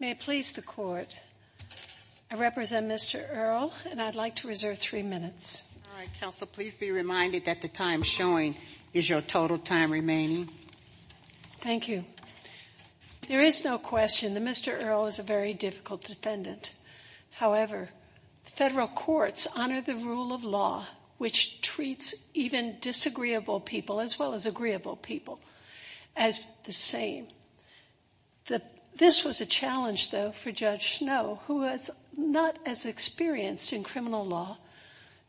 May it please the Court, I represent Mr. Earle, and I'd like to reserve three minutes. All right, Counsel, please be reminded that the time showing is your total time remaining. Thank you. There is no question that Mr. Earle is a very difficult defendant. However, federal courts honor the rule of law, which treats even disagreeable people as well as agreeable people. This was a challenge, though, for Judge Snow, who was not as experienced in criminal law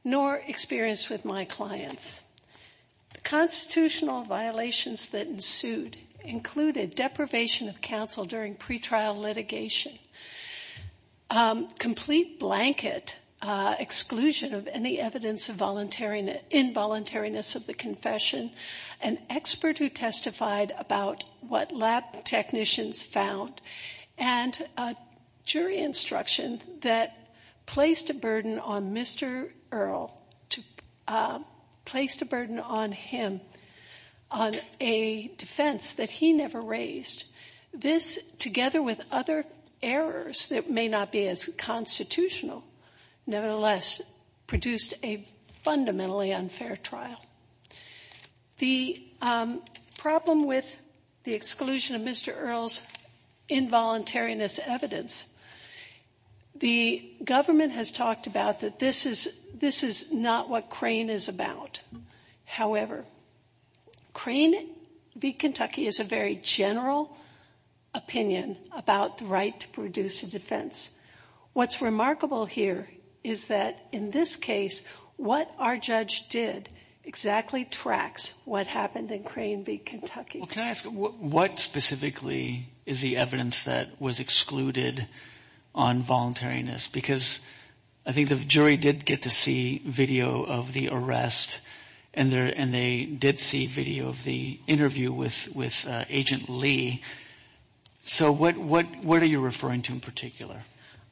nor experienced with my clients. The constitutional violations that ensued included deprivation of counsel during pretrial litigation, complete blanket exclusion of any evidence of involuntariness of the confession, an expert who testified about what lab technicians found, and a jury instruction that placed a burden on Mr. Earle, placed a burden on him on a defense that he never raised. This, together with other errors that may not be as constitutional, nevertheless produced a fundamentally unfair trial. The problem with the exclusion of Mr. Earle's involuntariness evidence, the government has talked about that this is not what Crane is about. However, Crane v. Kentucky is a very general opinion about the right to produce a defense. What's remarkable here is that in this case, what our judge did exactly tracks what happened in Crane v. Kentucky. Well, can I ask, what specifically is the evidence that was excluded on voluntariness? Because I think the jury did get to see video of the arrest, and they did see video of the interview with Agent Lee. So what are you referring to in particular?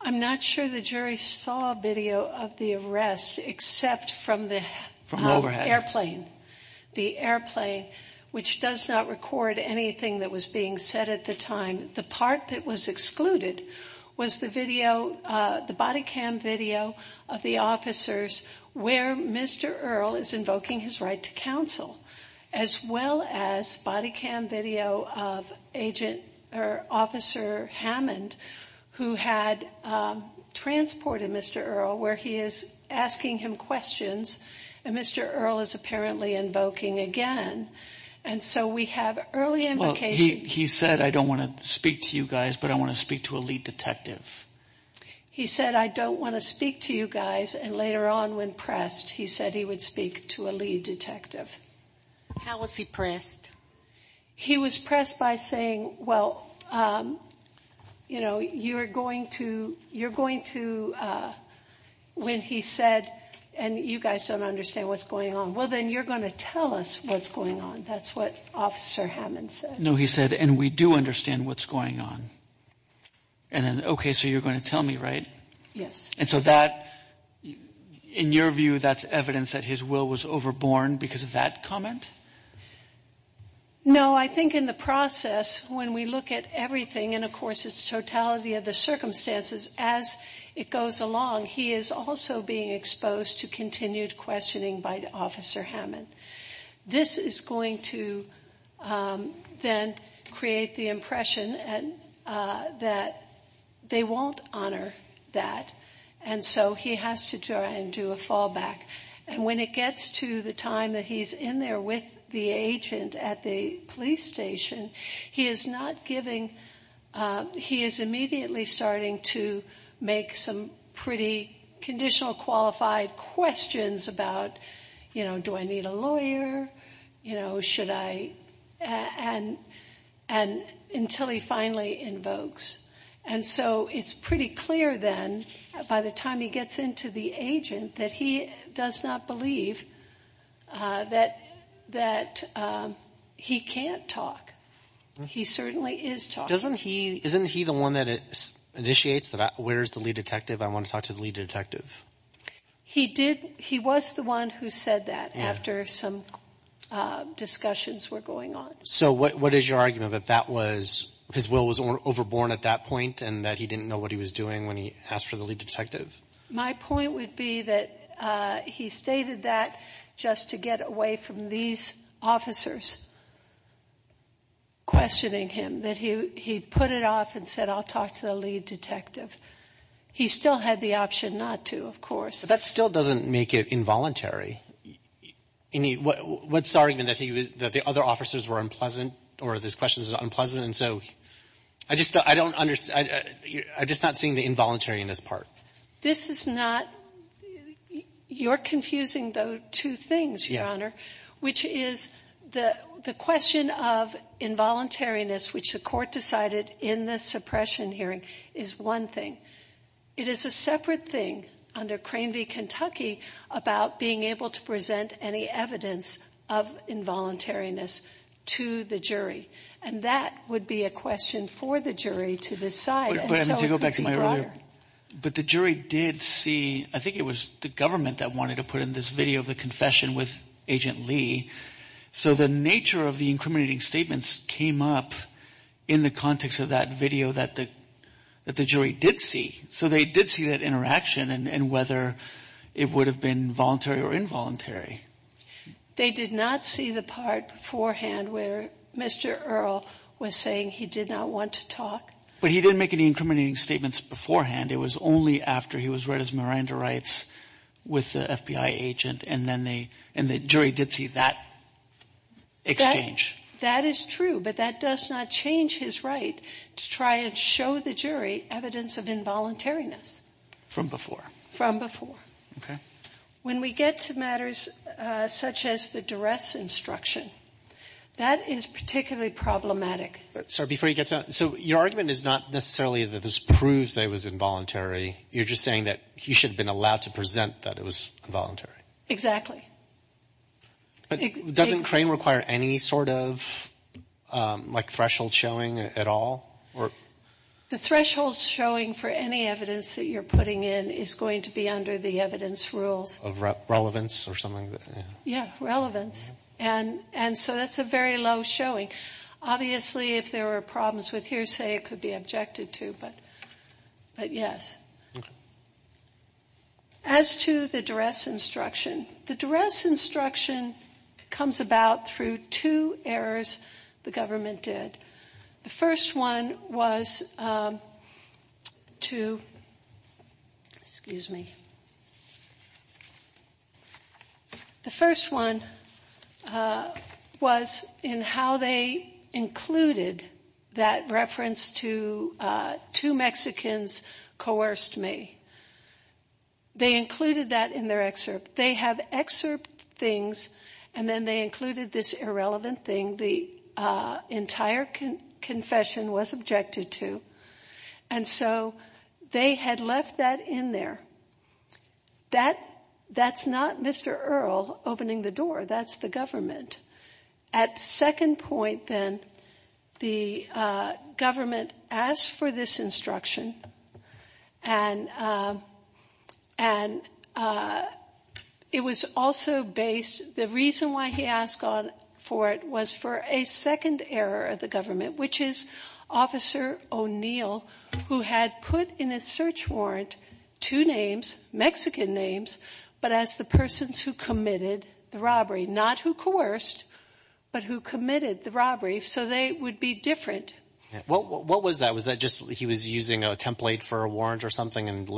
I'm not sure the jury saw video of the arrest, except from the airplane. The airplane, which does not record anything that was being said at the time. The part that was excluded was the body cam video of the officers where Mr. Earle is invoking his right to counsel, as well as body cam video of Officer Hammond, who had transported Mr. Earle, where he is asking him questions, and Mr. Earle is apparently invoking again. He said, I don't want to speak to you guys, but I want to speak to a lead detective. He said, I don't want to speak to you guys, and later on when pressed, he said he would speak to a lead detective. How was he pressed? He was pressed by saying, well, you're going to, when he said, and you guys don't understand what's going on, well, then you're going to tell us what's going on. That's what Officer Hammond said. No, he said, and we do understand what's going on. And then, okay, so you're going to tell me, right? Yes. And so that, in your view, that's evidence that his will was overborne because of that comment? No, I think in the process, when we look at everything, and of course it's totality of the circumstances, as it goes along, he is also being exposed to continued questioning by Officer Hammond. This is going to then create the impression that they won't honor that, and so he has to try and do a fallback. And when it gets to the time that he's in there with the agent at the police station, he is not giving, he is immediately starting to make some pretty conditional qualified questions about, you know, do I need a lawyer, you know, should I, and until he finally invokes. And so it's pretty clear then, by the time he gets into the agent, that he does not believe that he can't talk. He certainly is talking. Doesn't he, isn't he the one that initiates that where's the lead detective, I want to talk to the lead detective? He did, he was the one who said that after some discussions were going on. So what is your argument that that was, his will was overborne at that point, and that he didn't know what he was doing when he asked for the lead detective? My point would be that he stated that just to get away from these officers questioning him, that he put it off and said I'll talk to the lead detective. He still had the option not to, of course. But that still doesn't make it involuntary. I mean, what's the argument that he was, that the other officers were unpleasant or this question was unpleasant? And so I just don't understand, I'm just not seeing the involuntariness part. This is not, you're confusing the two things, Your Honor, which is the question of involuntariness, which the Court decided in the suppression hearing, is one thing. It is a separate thing under Crane v. Kentucky about being able to present any evidence of involuntariness to the jury, and that would be a question for the jury to decide. But to go back to my earlier, but the jury did see, I think it was the government that wanted to put in this video of the confession with Agent Lee, so the nature of the incriminating statements came up in the context of that video that the jury did see, so they did see that interaction and whether it would have been voluntary or involuntary. They did not see the part beforehand where Mr. Earle was saying he did not want to talk? But he didn't make any incriminating statements beforehand. It was only after he was read as Miranda Wrights with the FBI agent, and then the jury did see that exchange. That is true, but that does not change his right to try and show the jury evidence of involuntariness. From before. From before. Okay. When we get to matters such as the duress instruction, that is particularly problematic. Sorry, before you get to that, so your argument is not necessarily that this proves that it was involuntary. You're just saying that he should have been allowed to present that it was involuntary. Exactly. But doesn't Crane require any sort of, like, threshold showing at all? The threshold showing for any evidence that you're putting in is going to be under the evidence rules. Of relevance or something? Yeah, relevance. And so that's a very low showing. Obviously, if there were problems with hearsay, it could be objected to, but yes. Okay. As to the duress instruction, the duress instruction comes about through two errors the government did. The first one was to, excuse me. The first one was in how they included that reference to two Mexicans coerced me. They included that in their excerpt. They have excerpt things, and then they included this irrelevant thing the entire confession was objected to. And so they had left that in there. That's not Mr. Earle opening the door. That's the government. At the second point, then, the government asked for this instruction, and it was also based, the reason why he asked for it was for a second error of the government, which is Officer O'Neill, who had put in his search warrant two names, Mexican names, but as the persons who committed the robbery, not who coerced, but who committed the robbery. So they would be different. What was that? Was that just he was using a template for a warrant or something and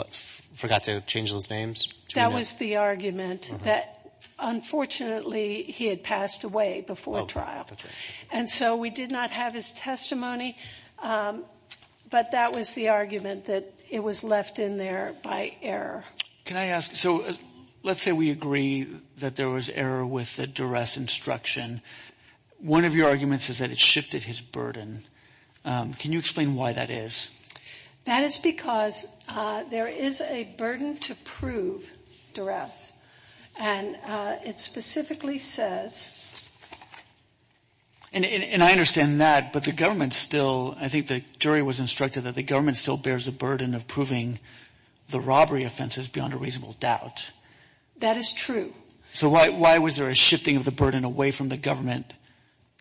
forgot to change those names? That was the argument that, unfortunately, he had passed away before trial. And so we did not have his testimony, but that was the argument that it was left in there by error. Can I ask, so let's say we agree that there was error with the duress instruction. One of your arguments is that it shifted his burden. Can you explain why that is? That is because there is a burden to prove duress, and it specifically says. And I understand that, but the government still, I think the jury was instructed that the government still bears the burden of proving the robbery offenses beyond a reasonable doubt. That is true. So why was there a shifting of the burden away from the government to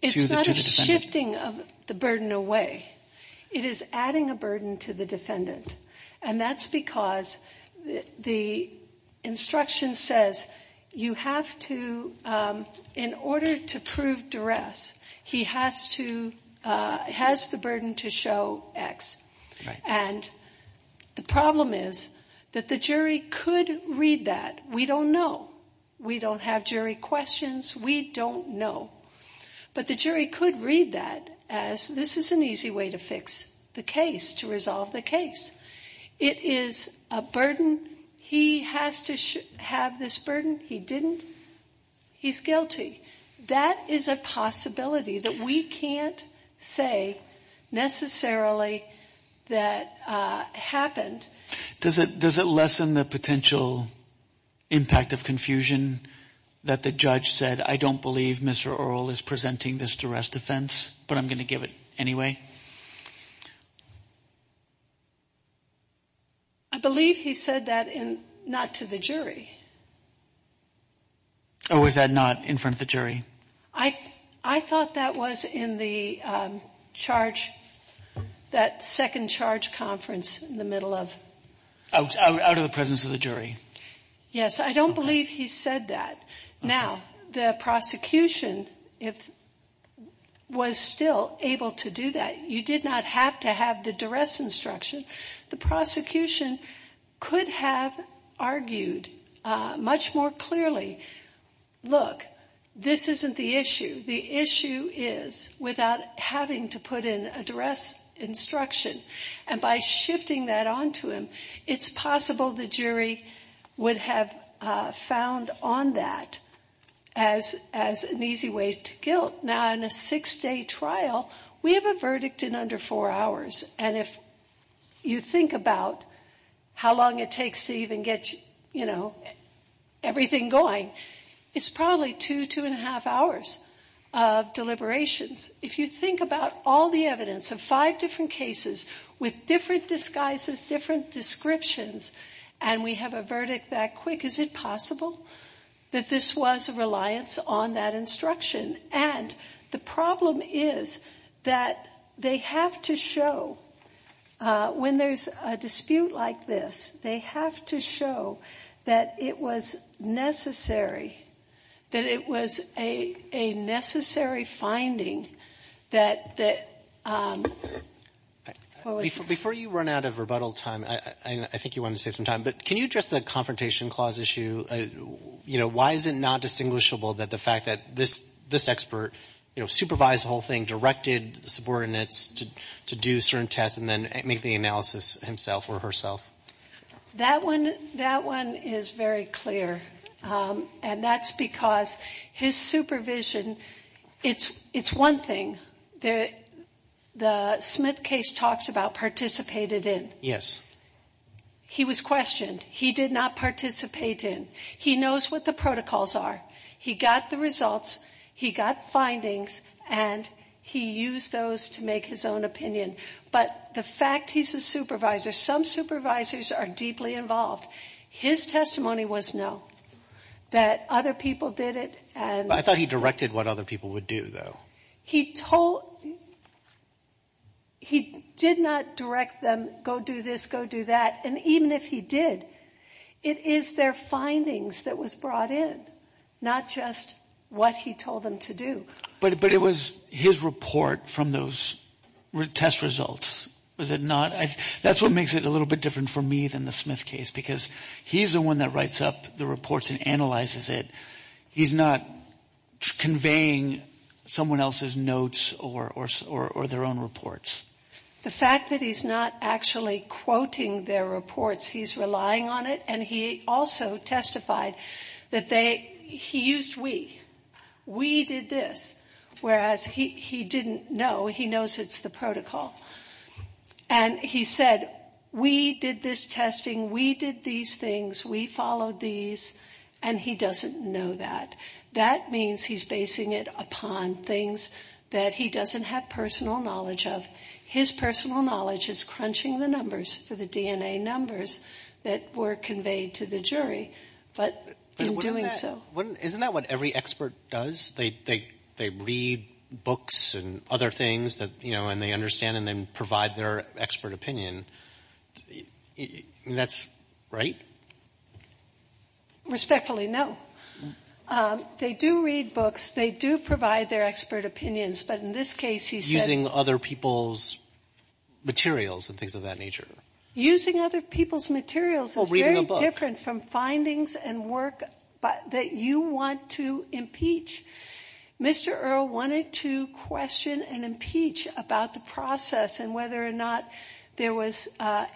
the defendant? It's not a shifting of the burden away. It is adding a burden to the defendant, and that's because the instruction says you have to, in order to prove duress, he has the burden to show X. And the problem is that the jury could read that. We don't know. We don't have jury questions. We don't know. But the jury could read that as this is an easy way to fix the case, to resolve the case. It is a burden. He has to have this burden. He didn't. He's guilty. That is a possibility that we can't say necessarily that happened. Does it lessen the potential impact of confusion that the judge said, I don't believe Mr. Earle is presenting this duress defense, but I'm going to give it anyway? I believe he said that not to the jury. Or was that not in front of the jury? I thought that was in the charge, that second charge conference in the middle of. Out of the presence of the jury. Yes. I don't believe he said that. Now, the prosecution was still able to do that. You did not have to have the duress instruction. The prosecution could have argued much more clearly, look, this isn't the issue. The issue is without having to put in a duress instruction. And by shifting that on to him, it's possible the jury would have found on that as an easy way to guilt. Now, in a six-day trial, we have a verdict in under four hours. And if you think about how long it takes to even get, you know, everything going, it's probably two, two and a half hours of deliberations. If you think about all the evidence of five different cases with different disguises, different descriptions, and we have a verdict that quick, is it possible that this was a reliance on that instruction? And the problem is that they have to show when there's a dispute like this, they have to show that it was necessary, that it was a necessary finding that the ‑‑ Before you run out of rebuttal time, I think you wanted to save some time, but can you address the confrontation clause issue? You know, why is it not distinguishable that the fact that this expert, you know, supervised the whole thing, directed the subordinates to do certain tests and then make the analysis himself or herself? That one is very clear. And that's because his supervision, it's one thing. The Smith case talks about participated in. Yes. He was questioned. He did not participate in. He knows what the protocols are. He got the results. He got findings. And he used those to make his own opinion. But the fact he's a supervisor, some supervisors are deeply involved. His testimony was no, that other people did it. I thought he directed what other people would do, though. He told ‑‑ he did not direct them, go do this, go do that. And even if he did, it is their findings that was brought in, not just what he told them to do. But it was his report from those test results, was it not? That's what makes it a little bit different for me than the Smith case, because he's the one that writes up the reports and analyzes it. He's not conveying someone else's notes or their own reports. The fact that he's not actually quoting their reports, he's relying on it. And he also testified that they ‑‑ he used we. We did this, whereas he didn't know. He knows it's the protocol. And he said, we did this testing, we did these things, we followed these, and he doesn't know that. That means he's basing it upon things that he doesn't have personal knowledge of. His personal knowledge is crunching the numbers for the DNA numbers that were conveyed to the jury, but in doing so ‑‑ So what an expert does, they read books and other things that, you know, and they understand and they provide their expert opinion. That's right? Respectfully, no. They do read books. They do provide their expert opinions. But in this case, he said ‑‑ Using other people's materials and things of that nature. Using other people's materials is very different from findings and work that you want to impeach. Mr. Earle wanted to question and impeach about the process and whether or not there was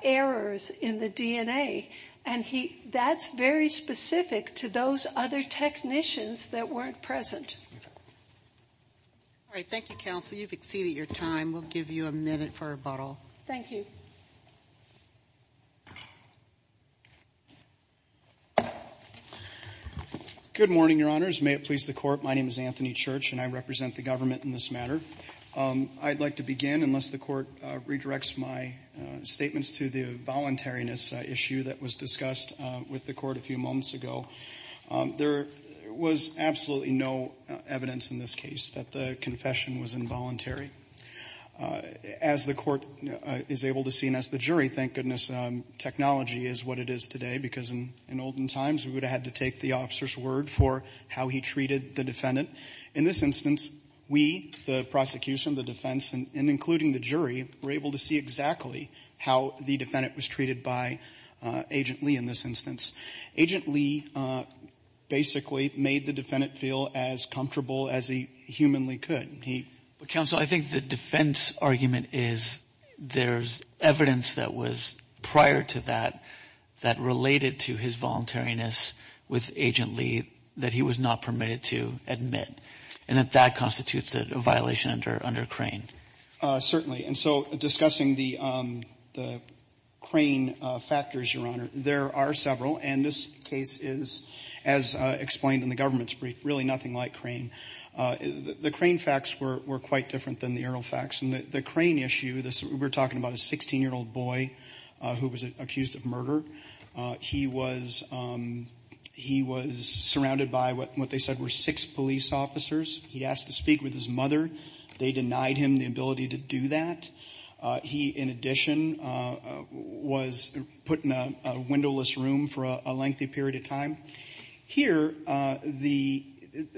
errors in the DNA. And that's very specific to those other technicians that weren't present. All right, thank you, counsel. You've exceeded your time. We'll give you a minute for rebuttal. Thank you. Good morning, Your Honors. May it please the Court. My name is Anthony Church, and I represent the government in this matter. I'd like to begin, unless the Court redirects my statements to the voluntariness issue that was discussed with the Court a few moments ago. There was absolutely no evidence in this case that the confession was involuntary. As the Court is able to see and as the jury, thank goodness, technology is what it is today, because in olden times, we would have had to take the officer's word for how he treated the defendant. In this instance, we, the prosecution, the defense, and including the jury, were able to see exactly how the defendant was treated by Agent Lee in this instance. Agent Lee basically made the defendant feel as comfortable as he humanly could. But, counsel, I think the defense argument is there's evidence that was prior to that that related to his voluntariness with Agent Lee that he was not permitted to admit, and that that constitutes a violation under Crane. Certainly. And so discussing the Crane factors, Your Honor, there are several, and this case is, as explained in the government's brief, really nothing like Crane. The Crane facts were quite different than the Errol facts. And the Crane issue, we're talking about a 16-year-old boy who was accused of murder. He was surrounded by what they said were six police officers. He asked to speak with his mother. They denied him the ability to do that. He, in addition, was put in a windowless room for a lengthy period of time. Here,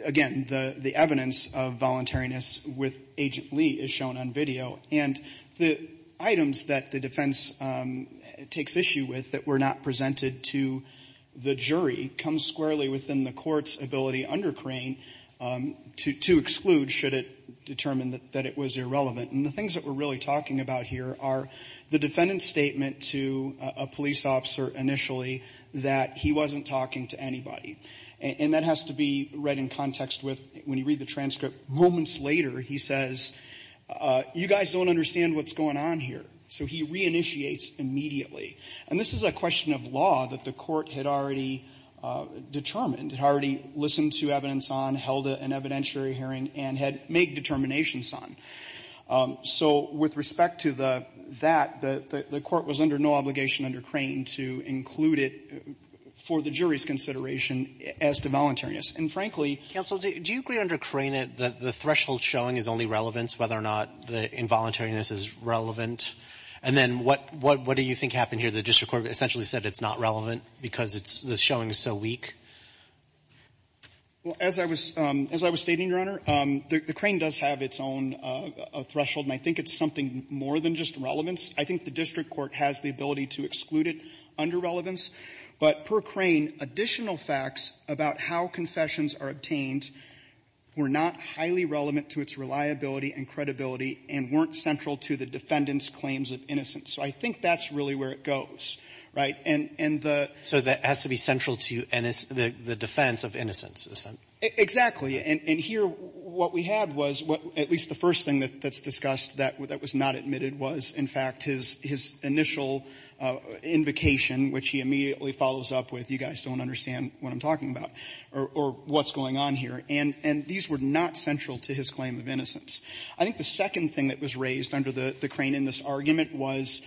again, the evidence of voluntariness with Agent Lee is shown on video. And the items that the defense takes issue with that were not presented to the jury come squarely within the court's ability under Crane to exclude should it determine that it was irrelevant. And the things that we're really talking about here are the defendant's statement to a police officer initially that he wasn't talking to anybody. And that has to be read in context with, when you read the transcript moments later, he says, you guys don't understand what's going on here. So he reinitiates immediately. And this is a question of law that the Court had already determined, had already listened to evidence on, held an evidentiary hearing, and had made determinations on. So with respect to that, the Court was under no obligation under Crane to include it for the jury's consideration as to voluntariness. And, frankly, counsel, do you agree under Crane that the threshold showing is only relevance, whether or not the involuntariness is relevant? And then what do you think happened here? The district court essentially said it's not relevant because the showing is so weak? Well, as I was stating, Your Honor, the Crane does have its own threshold. And I think it's something more than just relevance. I think the district court has the ability to exclude it under relevance. But per Crane, additional facts about how confessions are obtained were not highly relevant to its reliability and credibility and weren't central to the defendant's claims of innocence. So I think that's really where it goes, right? And the — So that has to be central to the defense of innocence, isn't it? Exactly. And here what we had was, at least the first thing that's discussed that was not admitted was, in fact, his initial invocation, which he immediately follows up with, you guys don't understand what I'm talking about, or what's going on here. And these were not central to his claim of innocence. I think the second thing that was raised under the Crane in this argument was,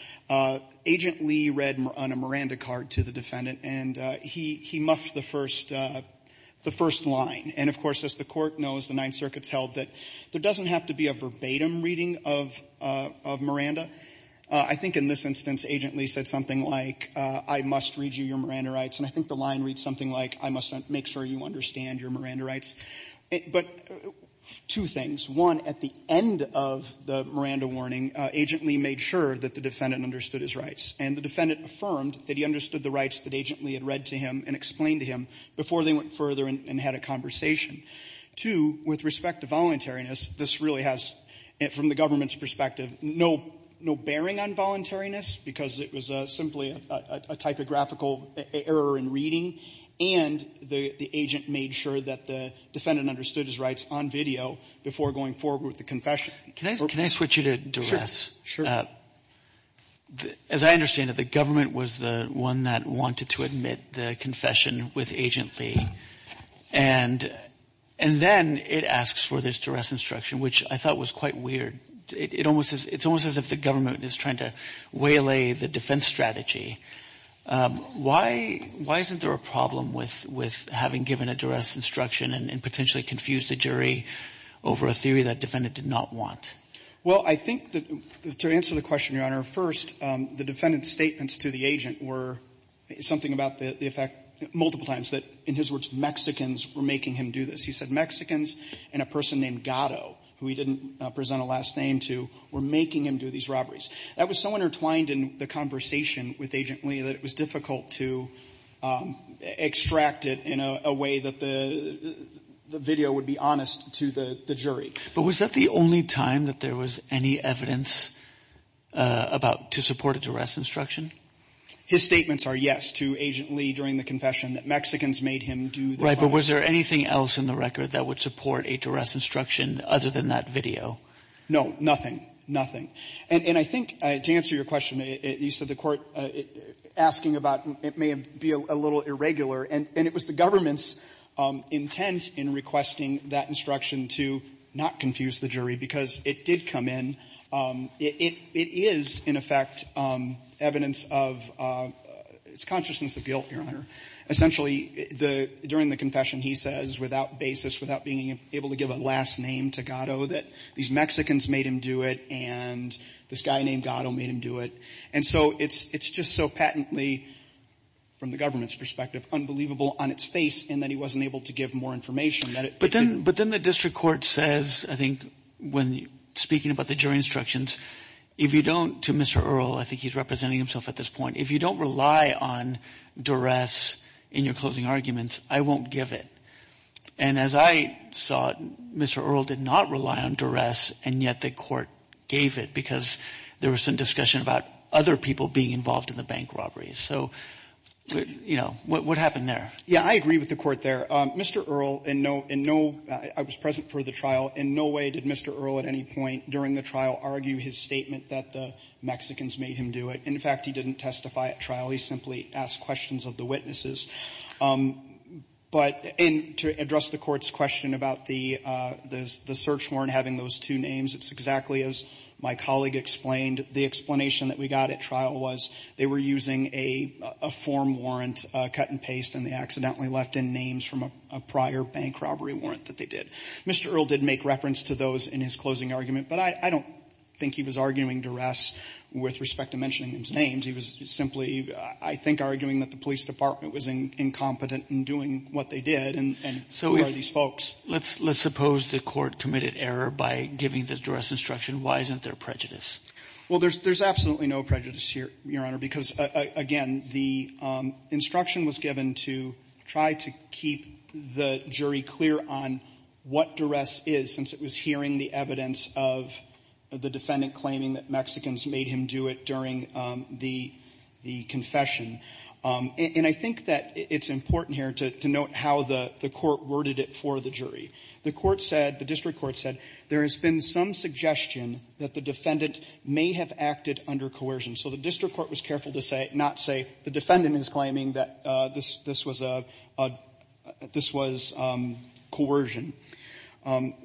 Agent Lee read on a Miranda card to the defendant, and he muffed the first line. And, of course, as the Court knows, the Ninth Circuit has held that there doesn't have to be a verbatim reading of Miranda. I think in this instance, Agent Lee said something like, I must read you your Miranda rights. And I think the line reads something like, I must make sure you understand your Miranda rights. But two things. One, at the end of the Miranda warning, Agent Lee made sure that the defendant understood his rights. And the defendant affirmed that he understood the rights that Agent Lee had read to him and explained to him before they went further and had a conversation. Two, with respect to voluntariness, this really has, from the government's perspective, no bearing on voluntariness, because it was simply a typographical error in reading. And the agent made sure that the defendant understood his rights on video before going forward with the confession. Kagan. Can I switch you to duress? Sure. As I understand it, the government was the one that wanted to admit the confession with Agent Lee. And then it asks for this duress instruction, which I thought was quite weird. It's almost as if the government is trying to waylay the defense strategy. Why isn't there a problem with having given a duress instruction and potentially confuse the jury over a theory that the defendant did not want? Well, I think that to answer the question, Your Honor, first, the defendant's statements to the agent were something about the effect multiple times that, in his words, Mexicans were making him do this. He said Mexicans and a person named Gatto, who he didn't present a last name to, were making him do these robberies. That was so intertwined in the conversation with Agent Lee that it was difficult to extract it in a way that the video would be honest to the jury. But was that the only time that there was any evidence to support a duress instruction? His statements are yes to Agent Lee during the confession, that Mexicans made him do this robbery. Right. But was there anything else in the record that would support a duress instruction other than that video? No. Nothing. Nothing. And I think, to answer your question, you said the Court asking about it may be a little irregular, and it was the government's intent in requesting that instruction to not confuse the jury, because it did come in. It is, in effect, evidence of its consciousness of guilt, Your Honor. Essentially, during the confession, he says, without basis, without being able to give a last name to Gatto, that these Mexicans made him do it and this guy named Gatto made him do it. And so it's just so patently, from the government's perspective, unbelievable on its face in that he wasn't able to give more information. But then the district court says, I think, when speaking about the jury instructions, if you don't, to Mr. Earle, I think he's representing himself at this point, if you don't rely on duress in your closing arguments, I won't give it. And as I saw it, Mr. Earle did not rely on duress, and yet the Court gave it because there was some discussion about other people being involved in the bank robberies. So, you know, what happened there? Yeah. I agree with the Court there. Mr. Earle, in no — in no — I was present for the trial. In no way did Mr. Earle at any point during the trial argue his statement that the Mexicans made him do it. In fact, he didn't testify at trial. He simply asked questions of the witnesses. But in — to address the Court's question about the search warrant having those two names, it's exactly as my colleague explained. The explanation that we got at trial was they were using a form warrant, cut and paste, and they accidentally left in names from a prior bank robbery warrant that they did. Mr. Earle did make reference to those in his closing argument, but I don't think he was arguing duress with respect to mentioning those names. He was simply, I think, arguing that the police department was incompetent in doing what they did, and who are these folks? So let's suppose the Court committed error by giving the duress instruction. Why isn't there prejudice? Well, there's absolutely no prejudice here, Your Honor, because, again, the instruction was given to try to keep the jury clear on what duress is, since it was hearing the evidence of the defendant claiming that Mexicans made him do it during the confession. And I think that it's important here to note how the Court worded it for the jury. The Court said, the district court said, there has been some suggestion that the defendant may have acted under coercion. So the district court was careful to say — not say, the defendant is claiming that this was a — this was coercion.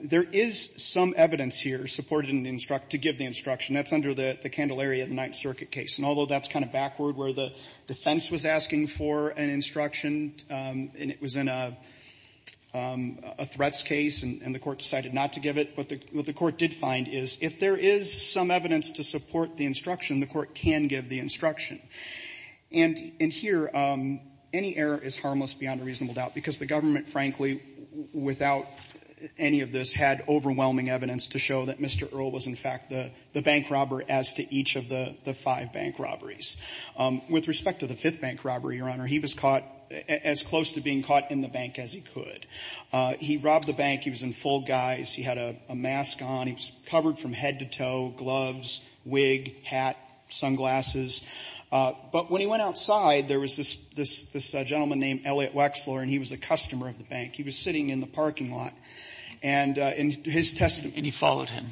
There is some evidence here supported in the — to give the instruction. That's under the — the Candelaria, the Ninth Circuit case. And although that's kind of backward, where the defense was asking for an instruction and it was in a — a threats case and the Court decided not to give it, what the — what the Court did find is, if there is some evidence to support the instruction, the Court can give the instruction. And — and here, any error is harmless beyond a reasonable doubt, because the government, frankly, without any of this, had overwhelming evidence to show that Mr. Earle was, in fact, the — the bank robber as to each of the — the five bank robberies. With respect to the fifth bank robbery, Your Honor, he was caught as close to being caught in the bank as he could. He robbed the bank. He was in full guise. He had a mask on. He was covered from head to toe, gloves, wig, hat, sunglasses. But when he went outside, there was this — this — this gentleman named Elliot Wexler, and he was a customer of the bank. He was sitting in the parking lot. And his testimony — And he followed him.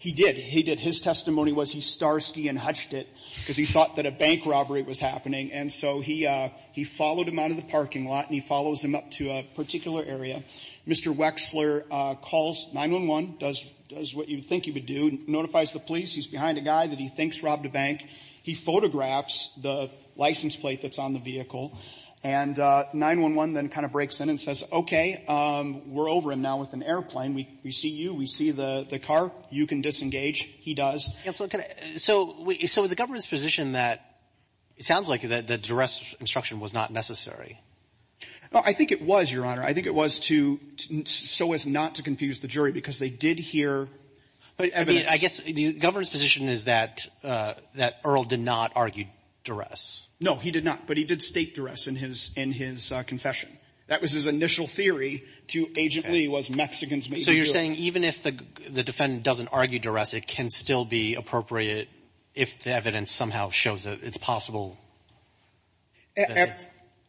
He did. He did. His testimony was he starsky and hutched it because he thought that a bank robbery was happening. And so he — he followed him out of the parking lot and he follows him up to a particular area. Mr. Wexler calls 911, does — does what you think he would do, notifies the police. He's behind a guy that he thinks robbed a bank. He photographs the license plate that's on the vehicle. And 911 then kind of breaks in and says, okay, we're over him now with an airplane. We — we see you. We see the — the car. You can disengage. He does. And so can I — so — so is the government's position that it sounds like the — the duress instruction was not necessary? Oh, I think it was, Your Honor. I think it was to — so as not to confuse the jury because they did hear evidence. I mean, I guess the government's position is that — that Earl did not argue duress. No, he did not. But he did state duress in his — in his confession. That was his initial theory to Agent Lee was Mexicans made to do it. So you're saying even if the defendant doesn't argue duress, it can still be appropriate if the evidence somehow shows that it's possible?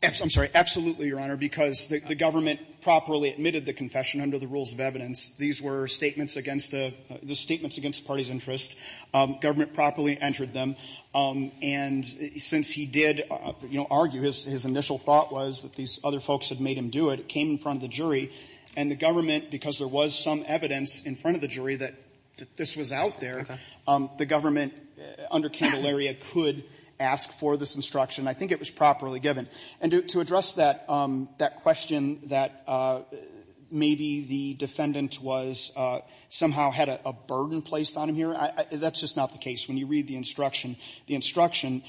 I'm sorry. Absolutely, Your Honor, because the government properly admitted the confession under the rules of evidence. These were statements against the — the statements against the party's interest. Government properly entered them. And since he did, you know, argue, his — his initial thought was that these other folks had made him do it. It came in front of the jury. And the government, because there was some evidence in front of the jury that this was out there, the government under Candelaria could ask for this instruction. I think it was properly given. And to address that — that question that maybe the defendant was — somehow had a burden placed on him here, that's just not the case. When you read the instruction, the instruction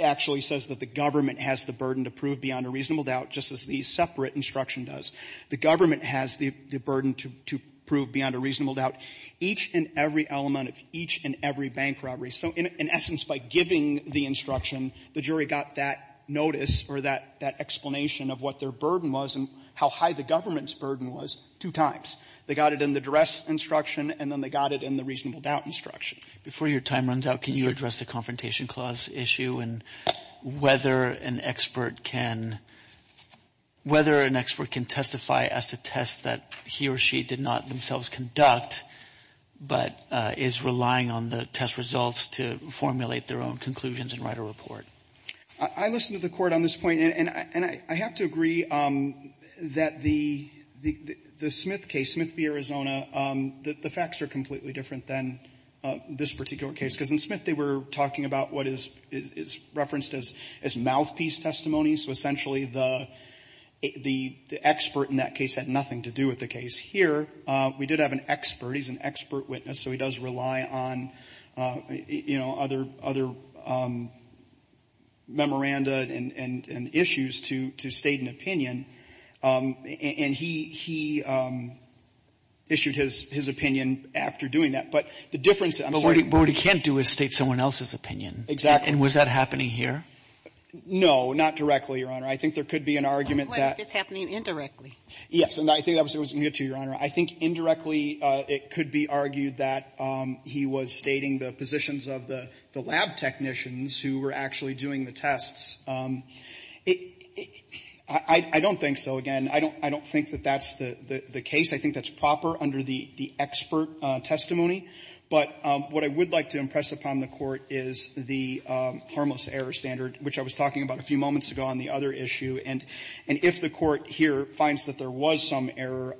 actually says that the government has the burden to prove beyond a reasonable doubt, just as the separate instruction does. The government has the — the burden to — to prove beyond a reasonable doubt. Each and every element of each and every bank robbery — so in — in essence, by giving the instruction, the jury got that notice or that — that explanation of what their burden was and how high the government's burden was two times. They got it in the duress instruction, and then they got it in the reasonable doubt instruction. Before your time runs out, can you address the Confrontation Clause issue and whether an expert can — whether an expert can testify as to tests that he or she did not themselves conduct, but is relying on the test results to formulate their own conclusions and write a report? I listened to the Court on this point, and I — and I have to agree that the — the Smith case, Smith v. Arizona, the facts are completely different than this particular case, because in Smith, they were talking about what is — is referenced as mouthpiece testimony, so essentially the — the expert in that case had nothing to do with the case. Here, we did have an expert. He's an expert witness, so he does rely on, you know, memoranda and — and issues to — to state an opinion, and he — he issued his — his opinion after doing that. But the difference — I'm sorry. But what he can't do is state someone else's opinion. Exactly. And was that happening here? No, not directly, Your Honor. I think there could be an argument that — But what if it's happening indirectly? Yes. And I think that was — let me get to you, Your Honor. I think indirectly, it could be argued that he was stating the positions of the — the lab technicians who were actually doing the tests. I don't think so. Again, I don't — I don't think that that's the — the case. I think that's proper under the expert testimony. But what I would like to impress upon the Court is the harmless error standard, which I was talking about a few moments ago on the other issue. And if the Court here finds that there was some error,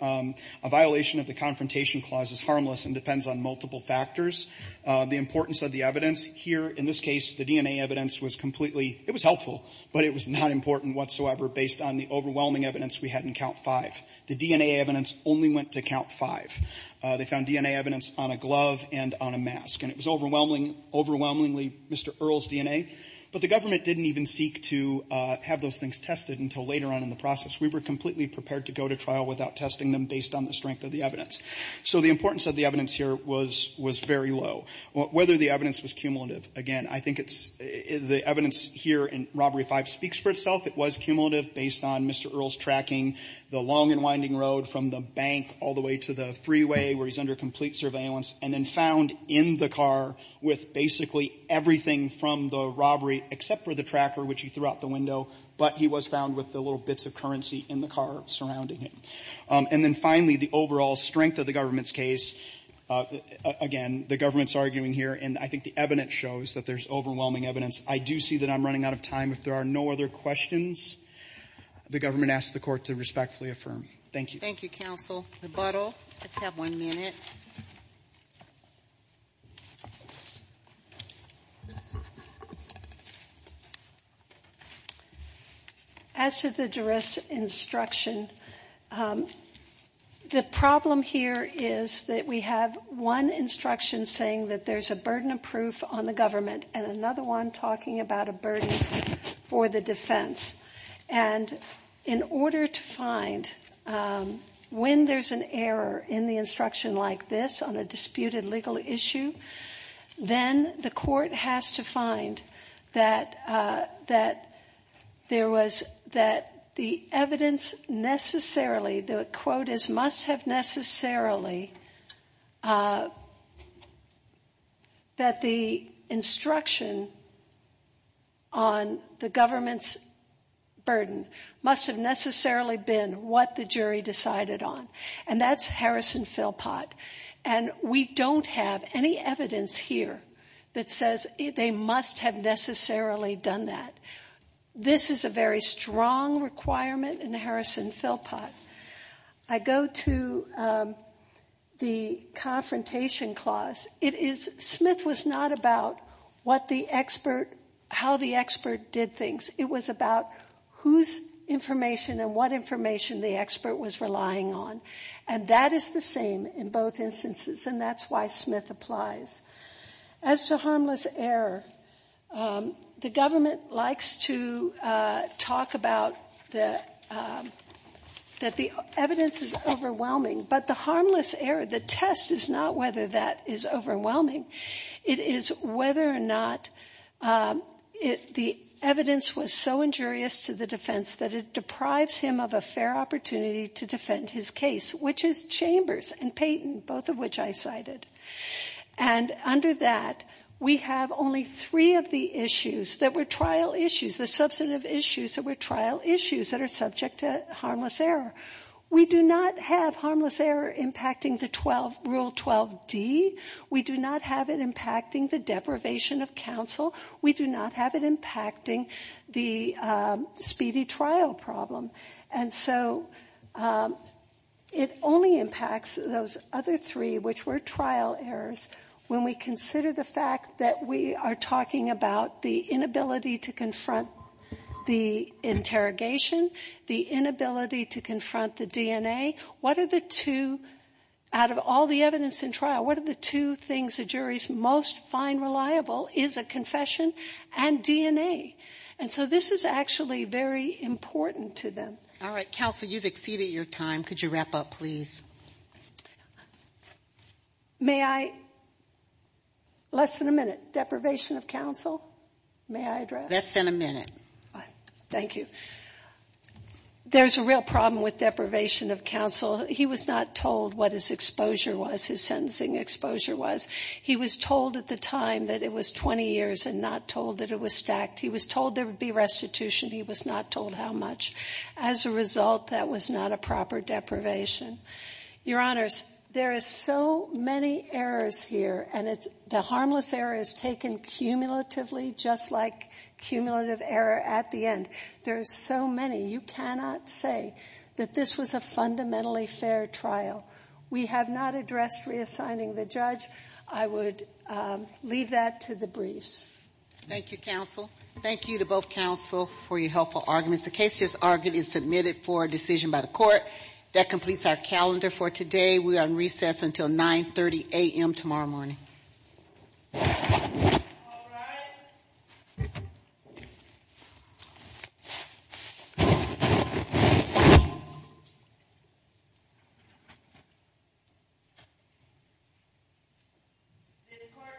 a violation of the Confrontation Clause is harmless and depends on multiple factors. The importance of the evidence here, in this case, the DNA evidence was completely — it was helpful, but it was not important whatsoever based on the overwhelming evidence we had in Count 5. The DNA evidence only went to Count 5. They found DNA evidence on a glove and on a mask. And it was overwhelming — overwhelmingly Mr. Earle's DNA. But the government didn't even seek to have those things tested until later on in the process. We were completely prepared to go to trial without testing them based on the evidence. So the importance of the evidence here was — was very low. Whether the evidence was cumulative, again, I think it's — the evidence here in Robbery 5 speaks for itself. It was cumulative based on Mr. Earle's tracking the long and winding road from the bank all the way to the freeway where he's under complete surveillance, and then found in the car with basically everything from the robbery except for the tracker, which he threw out the window, but he was found with the little bits of currency in the car surrounding him. And then finally, the overall strength of the government's case, again, the government's arguing here, and I think the evidence shows that there's overwhelming evidence. I do see that I'm running out of time. If there are no other questions, the government asks the Court to respectfully affirm. Thank you. Thank you, Counsel. Rebuttal. Let's have one minute. As to the jurist's instruction, the problem here is that we have one instruction saying that there's a burden of proof on the government and another one talking about a burden for the defense. And in order to find when there's an error in the instruction like this on a disputed legal issue, then the Court has to find that there was, that the evidence necessarily, the quote is, must have necessarily, that the instruction on the government's burden must have necessarily been what the jury decided on. And that's Harrison Philpott. And we don't have any evidence here that says they must have necessarily done that. This is a very I go to the confrontation clause. It is, Smith was not about what the expert, how the expert did things. It was about whose information and what information the expert was relying on. And that is the same in both instances. And that's why Smith applies. As to harmless error, the government likes to talk about that the evidence is overwhelming. But the harmless error, the test is not whether that is overwhelming. It is whether or not the evidence was so injurious to the defense that it deprives him of a fair opportunity to defend his case, which is Chambers and Payton, both of which I cited. And under that we have only three of the issues that were trial issues, the substantive issues that were trial issues that are subject to harmless error. We do not have harmless error impacting the Rule 12D. We do not have it impacting the deprivation of counsel. We do not have it impacting the speedy trial problem. And so it only impacts those other three, which were trial errors, when we consider the fact that we are talking about the inability to confront the interrogation, the inability to confront the DNA. What are the two, out of all the evidence in trial, what are the two things the juries most find reliable is the confession and DNA. And so this is actually very important to them. All right. Counsel, you have exceeded your time. Could you wrap up, please? May I? Less than a minute. Deprivation of counsel, may I address? Less than a minute. Thank you. There is a real problem with deprivation of counsel. He was not told what his exposure was, his sentencing exposure was. He was told at the time that it was 20 years and not told that it was stacked. He was told there would be restitution. He was not told how much. As a result, that was not a proper deprivation. Your Honors, there are so many errors here, and the harmless error is taken cumulatively, just like cumulative error at the end. There are so many. You cannot say that this was a fundamentally fair trial. We have not addressed reassigning the judge. I would leave that to the briefs. Thank you, counsel. Thank you to both counsel for your helpful arguments. The case just argued is submitted for a decision by the court. That completes our calendar for today. We are on recess until 930 a.m. tomorrow morning. All rise. This court for this session stands adjourned.